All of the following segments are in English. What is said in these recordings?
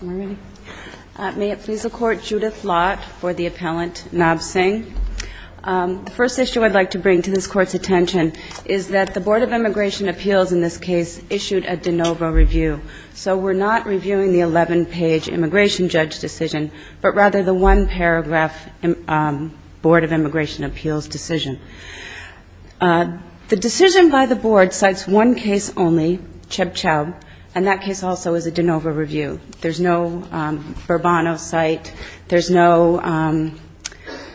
May it please the Court, Judith Lott for the appellant, Nav Singh. The first issue I'd like to bring to this Court's attention is that the Board of Immigration Appeals in this case issued a de novo review. So we're not reviewing the 11-page immigration judge decision, but rather the one-paragraph Board of Immigration Judges decision. There's no de novo review. There's no Bourbano cite. There's no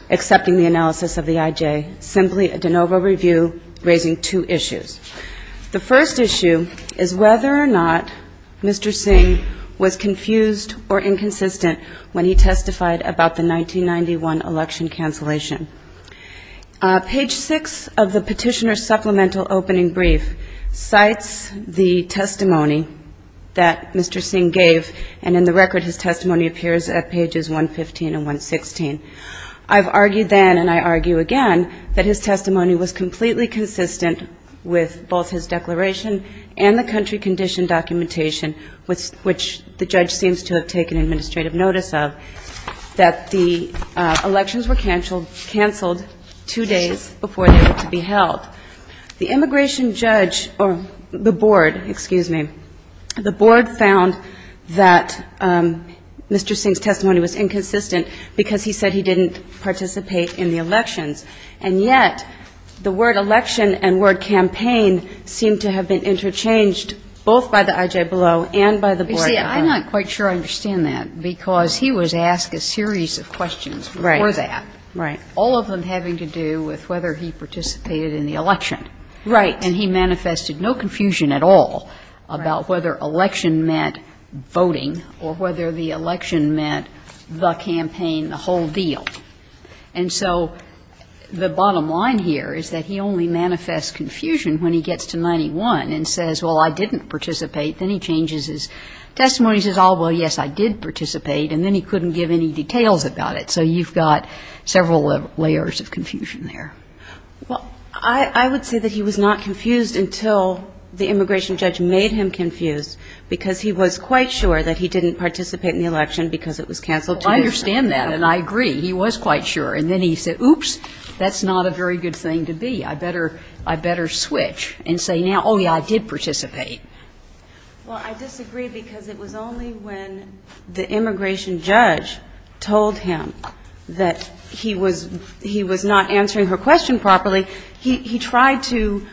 accepting the analysis of the IJ. Simply a de novo review raising two issues. The first issue is whether or not Mr. Singh was confused or inconsistent when he testified about the 1991 election cancellation. Page 6 of the Petitioner's Supplemental Opening Brief cites the testimony that Mr. Singh gave, and in the record his testimony appears at pages 115 and 116. I've argued then, and I argue again, that his testimony was completely consistent with both his declaration and the country condition documentation, which the judge seems to have taken administrative notice of, that the elections were cancelled two days before they were to be held. The immigration judge, or the Board, excuse me, the Board found that Mr. Singh's testimony was inconsistent because he said he didn't participate in the elections, and yet the word election and word campaign seem to have been interchanged both by the IJ below and by the Board above. You see, I'm not quite sure I understand that, because he was asked a series of questions before that, all of them having to do with whether he participated in the election. Right. And he manifested no confusion at all about whether election meant voting or whether the election meant the campaign, the whole deal. And so the bottom line here is that he only manifests confusion when he gets to 91 and says, well, I didn't participate. Then he changes his testimony and says, oh, well, yes, I did participate, and then he couldn't give any details about it. So you've got several layers of confusion there. Well, I would say that he was not confused until the immigration judge made him confused, because he was quite sure that he didn't participate in the election because it was canceled two years later. Well, I understand that, and I agree. He was quite sure. And then he said, oops, that's not a very good thing to be. I better switch and say now, oh, yes, I did participate. Well, I disagree because it was only when the immigration judge told him that he was not answering her question properly, he tried to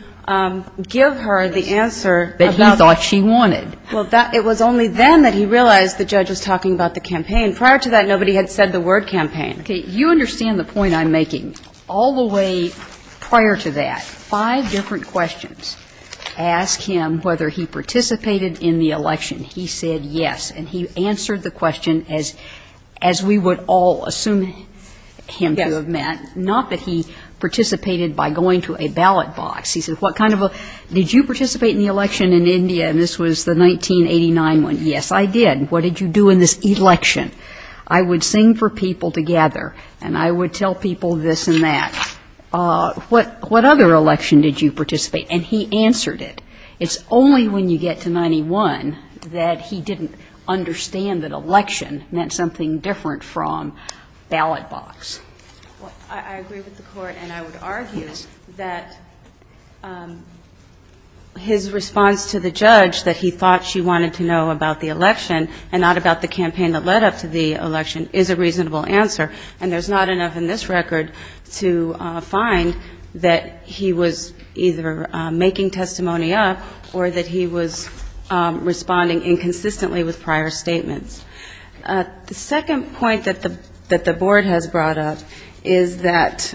give her the answer about it. But he thought she wanted. Well, it was only then that he realized the judge was talking about the campaign. Prior to that, nobody had said the word campaign. Okay. You understand the point I'm making. All the way prior to that, five different questions ask him whether he participated in the election. He said yes, and he answered the question as we would all assume him to have met, not that he participated by going to a ballot box. He said, what kind of a, did you participate in the election in India? And this was the 1989 one. Yes, I did. What did you do in this election? I would sing for people together, and I would tell people this and that. What other election did you participate? And he answered it. It's only when you get to 91 that he didn't understand that election meant something different from ballot box. Well, I agree with the Court, and I would argue that his response to the judge that he thought she wanted to know about the election and not about the campaign that led up to the election is a reasonable answer. And there's not enough in this that he was responding inconsistently with prior statements. The second point that the board has brought up is that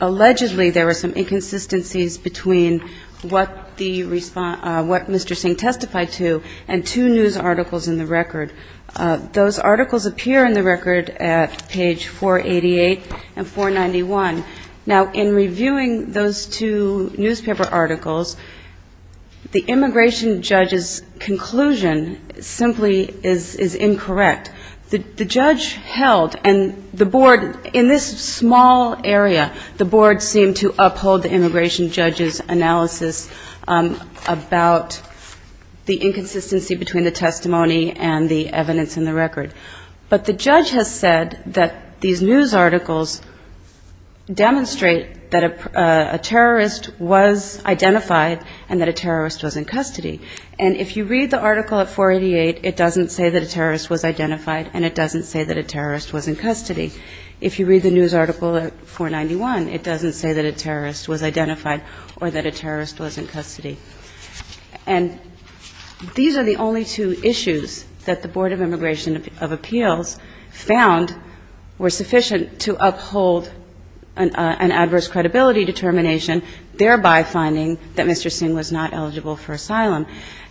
allegedly there were some inconsistencies between what Mr. Singh testified to and two news articles in the record. Those articles appear in the record at page 488 and 491. Now, in reviewing those two newspaper articles, the board has brought up the fact that Mr. Singh, the immigration judge's conclusion simply is incorrect. The judge held, and the board, in this small area, the board seemed to uphold the immigration judge's analysis about the inconsistency between the testimony and the evidence in the record. But the judge has said that these news articles demonstrate that a terrorist was identified and that a terrorist was not. And if you read the article at 488, it doesn't say that a terrorist was identified, and it doesn't say that a terrorist was in custody. If you read the news article at 491, it doesn't say that a terrorist was identified or that a terrorist was in custody. And these are the only two issues that the Board of Immigration of Appeals found were sufficient to uphold an adverse credibility determination, thereby finding that Mr. Singh was not eligible for asylum.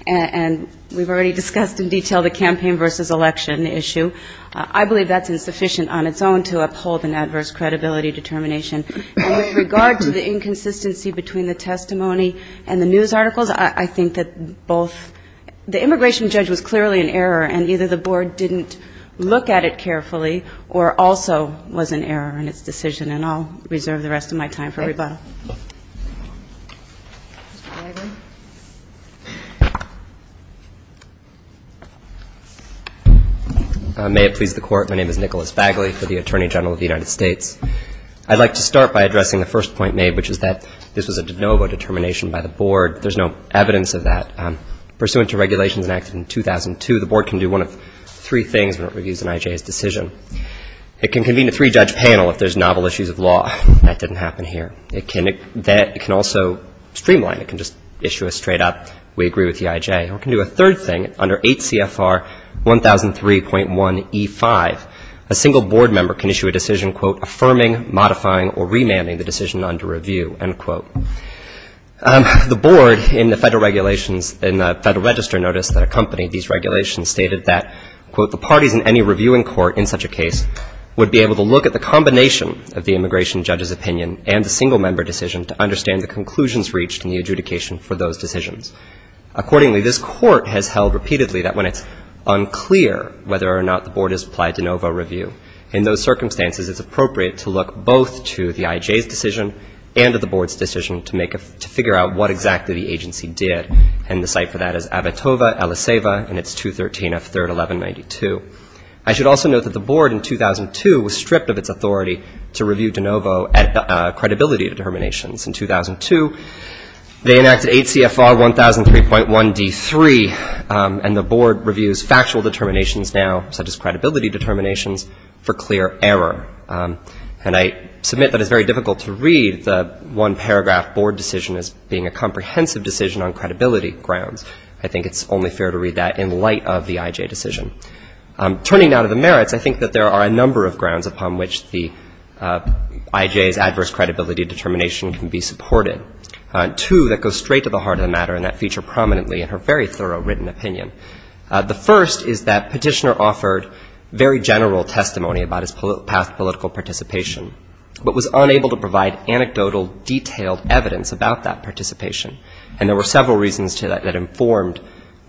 And we've already discussed in detail the campaign versus election issue. I believe that's insufficient on its own to uphold an adverse credibility determination. And with regard to the inconsistency between the testimony and the news articles, I think that both the immigration judge was clearly an error, and either the board didn't look at it carefully or also was an error in its decision. And I'll reserve the rest of my time for rebuttal. Mr. Bagley. May it please the Court. My name is Nicholas Bagley for the Attorney General of the United States. I'd like to start by addressing the first point made, which is that this was a de novo determination by the board. There's no evidence of that. Pursuant to regulations enacted in 2002, the board can do one of three things when it reviews an IJA's decision. It can convene a three-judge panel if there's novel issues of law. That didn't happen here. It can also streamline. It can just issue a straight-up, we agree with the IJA. Or it can do a third thing. Under 8 CFR 1003.1E5, a single board member can issue a decision, quote, affirming, modifying, or remanding the decision under review, end quote. The board in the Federal Register notice that accompanied these regulations stated that, quote, the parties in any reviewing court in such a case would be able to look at the combination of the immigration judge's opinion and the single member decision to understand the conclusions reached in the adjudication for those decisions. Accordingly, this court has held repeatedly that when it's unclear whether or not the board has applied de novo review, in those circumstances it's appropriate to look both to the IJA's decision and to the board's decision to make a, to figure out what exactly the agency did. And the site for that is Abitoba, El Aceva, and it's 213 F. 3rd, 1192. I should also note that the board in 2002 was stripped of its authority to review de novo at the credibility of the board. In 2002, they enacted 8 CFR 1003.1D3, and the board reviews factual determinations now, such as credibility determinations, for clear error. And I submit that it's very difficult to read the one paragraph board decision as being a comprehensive decision on credibility grounds. I think it's only fair to read that in light of the IJA decision. Turning now to the merits, I think that there are a number of grounds upon which the IJA's adverse credibility determination can be supported. Two that go straight to the heart of the matter and that feature prominently in her very thorough written opinion. The first is that Petitioner offered very general testimony about his past political participation, but was unable to provide anecdotal, detailed evidence about that participation. And there were several reasons to that that informed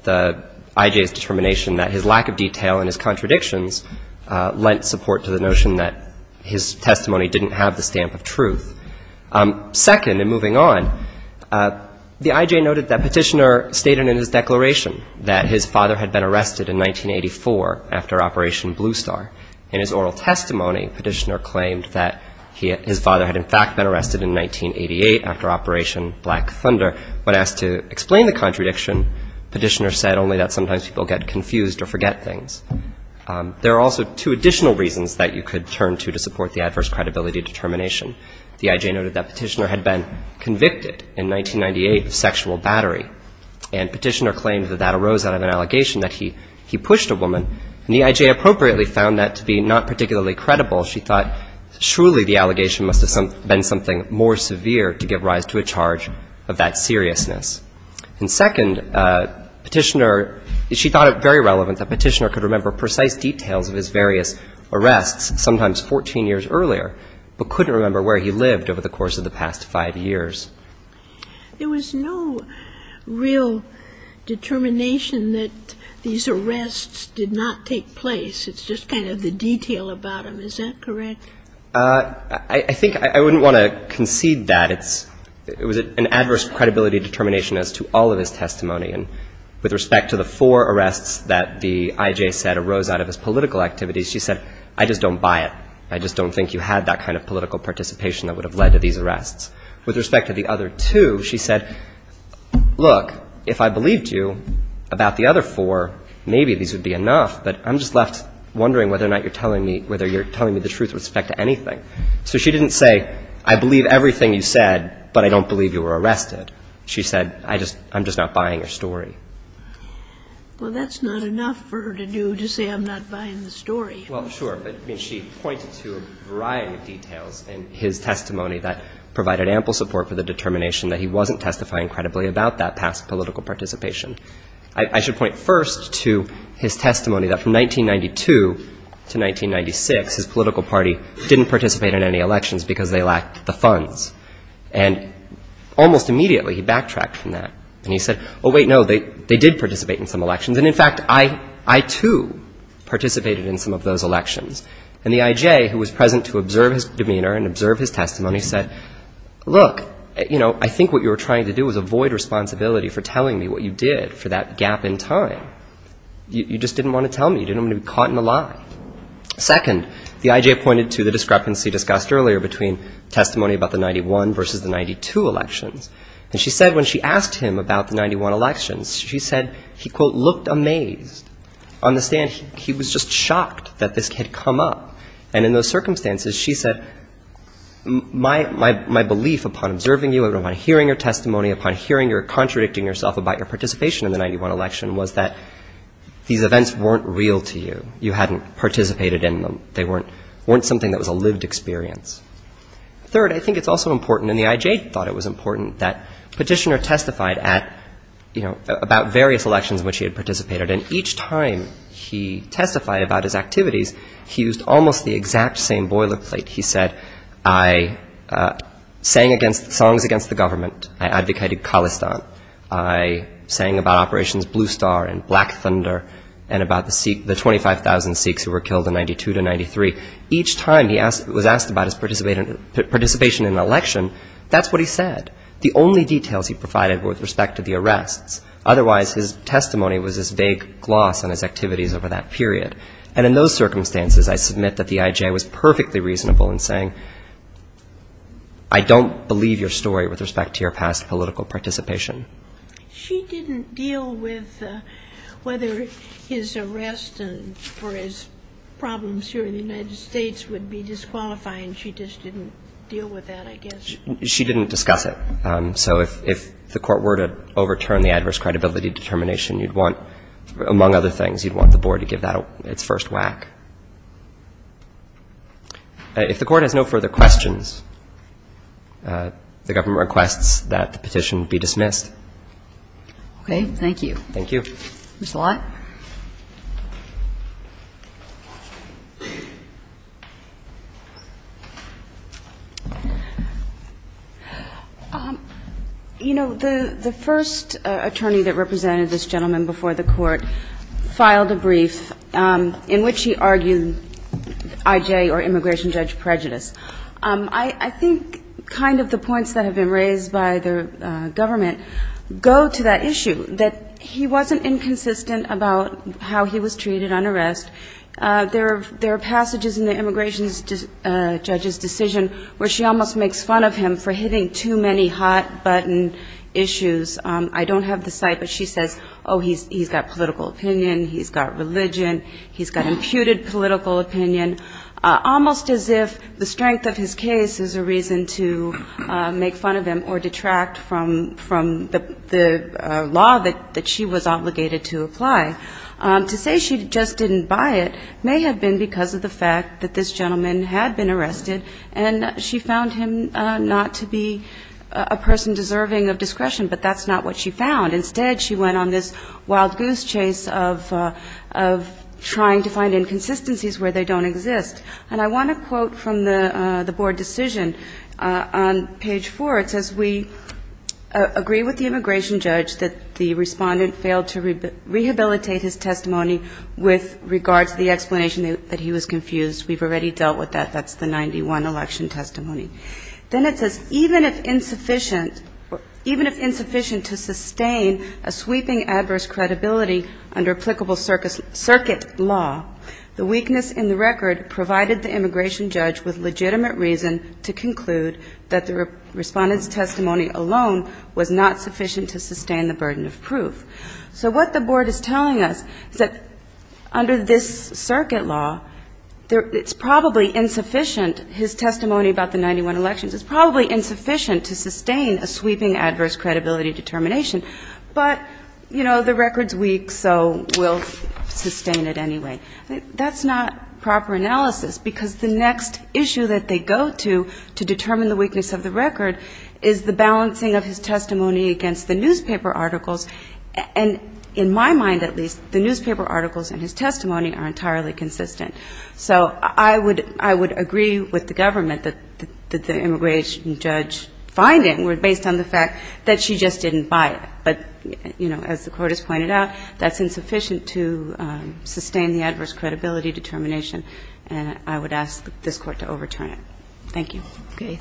the IJA's determination that his lack of detail in his contradictions lent support to the notion that his testimony didn't have the stamp of truth. Second, and moving on, the IJA noted that Petitioner stated in his declaration that his father had been arrested in 1984 after Operation Blue Star. In his oral testimony, Petitioner claimed that his father had in fact been arrested in 1988 after Operation Black Thunder. When asked to explain the contradiction, Petitioner said only that sometimes people get confused or forget things. There are also two additional reasons that you could turn to to support the adverse credibility determination. The IJA noted that Petitioner had been convicted in 1998 of sexual battery, and Petitioner claimed that that arose out of an First, Petitioner felt that the allegations that he made to the IJA were meant to be not particularly credible. She thought surely the allegation must have been something more severe to give rise to a charge of that seriousness. And second, Petitioner – she thought it very relevant that Petitioner could remember precise details of his various arrests, sometimes 14 years earlier, but couldn't remember where he lived over the course of the past five years. There was no real determination that these arrests did not take place. It's just kind of the detail about them. Is that correct? I think I wouldn't want to concede that. It was an adverse credibility determination as to all of his testimony. And with respect to the four arrests that the IJA said arose out of his political activities, she said, I just don't buy it. I just don't think you had that kind of political participation that would have led to these arrests. With respect to the other two, she said, look, if I believed you about the other four, maybe these would be enough, but I'm just left wondering whether or not you're telling me the truth with respect to anything. So she didn't say, I believe everything you said, but I don't believe you were arrested. She said, I'm just not buying your story. Well, that's not enough for her to do to say I'm not buying the story. Well, sure, but she pointed to a variety of details in his testimony that provided ample support for the determination that he wasn't testifying credibly about that past political participation. I should point first to his testimony that from 1992 to 1996, his political party didn't participate in any elections because they lacked the funds. And almost immediately he backtracked from that and he said, oh, wait, no, they did participate in some elections. And, in fact, I, too, participated in some of those elections. And the IJA, who was present to observe his demeanor and observe his testimony, said, look, you know, I think what you were trying to do was avoid responsibility for telling me what you did for that gap in time. You just didn't want to tell me. You didn't want to be caught in a lie. Second, the IJA pointed to the discrepancy discussed earlier between testimony about the 91 versus the 92 elections. And she said when she asked him about the 91 elections, she said he, quote, looked amazed on the stand. He was just shocked that this had come up. And in those circumstances, she said, my belief upon observing you, upon hearing your testimony, upon hearing or contradicting yourself about your participation in the 91 election was that these events weren't real to you. You hadn't participated in them. They weren't something that was a lived experience. Third, I think it's also important, and the IJA thought it was important, that Petitioner testified about various elections in which he had participated. And each time he testified about his activities, he used almost the exact same boilerplate. He said, I sang songs against the government. I advocated Khalistan. I sang about Operation Blue Star and Black Thunder and about the 25,000 Sikhs who were killed in 92 to 93. Each time he was asked about his participation in an election, that's what he said. The only details he provided were with respect to the arrests. Otherwise, his testimony was this vague gloss on his activities over that period. And in those circumstances, I submit that the IJA was perfectly reasonable in saying, I don't believe your story with respect to your past political participation. She didn't deal with whether his arrest for his problems here in the United States would be disqualifying. She just didn't deal with that, I guess. She didn't discuss it. So if the Court were to overturn the adverse credibility determination, you'd want, among other things, you'd want the Board to give that its first whack. If the Court has no further questions, the government requests that the petition be dismissed. Thank you. You know, the first attorney that represented this gentleman before the Court filed a brief in which he argued IJA or immigration judge prejudice. I think kind of the points that have been raised by the government go to that issue, that he wasn't inconsistent about how he was treated on arrest. There are passages in the immigration judge's decision where she almost makes fun of him for hitting too many hots. I don't have the site, but she says, oh, he's got political opinion, he's got religion, he's got imputed political opinion, almost as if the strength of his case is a reason to make fun of him or detract from the law that she was obligated to apply. To say she just didn't buy it may have been because of the fact that this gentleman had been arrested and she found him not to be a person deserving of discretion, but that's not what she found. Instead, she went on this wild goose chase of trying to find inconsistencies where they don't exist. And I want to quote from the Board decision on page 4. It says, we agree with the immigration judge that the respondent failed to rehabilitate his testimony with regards to the explanation that he was confused. We've already dealt with that, that's the 91 election testimony. Then it says, even if insufficient to sustain a sweeping adverse credibility under applicable circuit law, the weakness in the record provided the immigration judge with legitimate reason to conclude that the respondent's testimony alone was not sufficient to sustain the burden of proof. So what the Board is telling us is that under this circuit law, it's probably insufficient, his testimony about the 91 elections, it's probably insufficient to sustain a sweeping adverse credibility determination, but, you know, the record's weak, so we'll sustain it anyway. That's not proper analysis, because the next issue that they go to to determine the weakness of the record is the balancing of his testimony against the newspaper articles, and in my mind at least, the newspaper articles in his testimony are entirely consistent. So I would agree with the government that the immigration judge find it based on the fact that she just didn't buy it. But, you know, as the Court has pointed out, that's insufficient to sustain the adverse credibility determination, and I would ask this Court to overturn it. Thank you.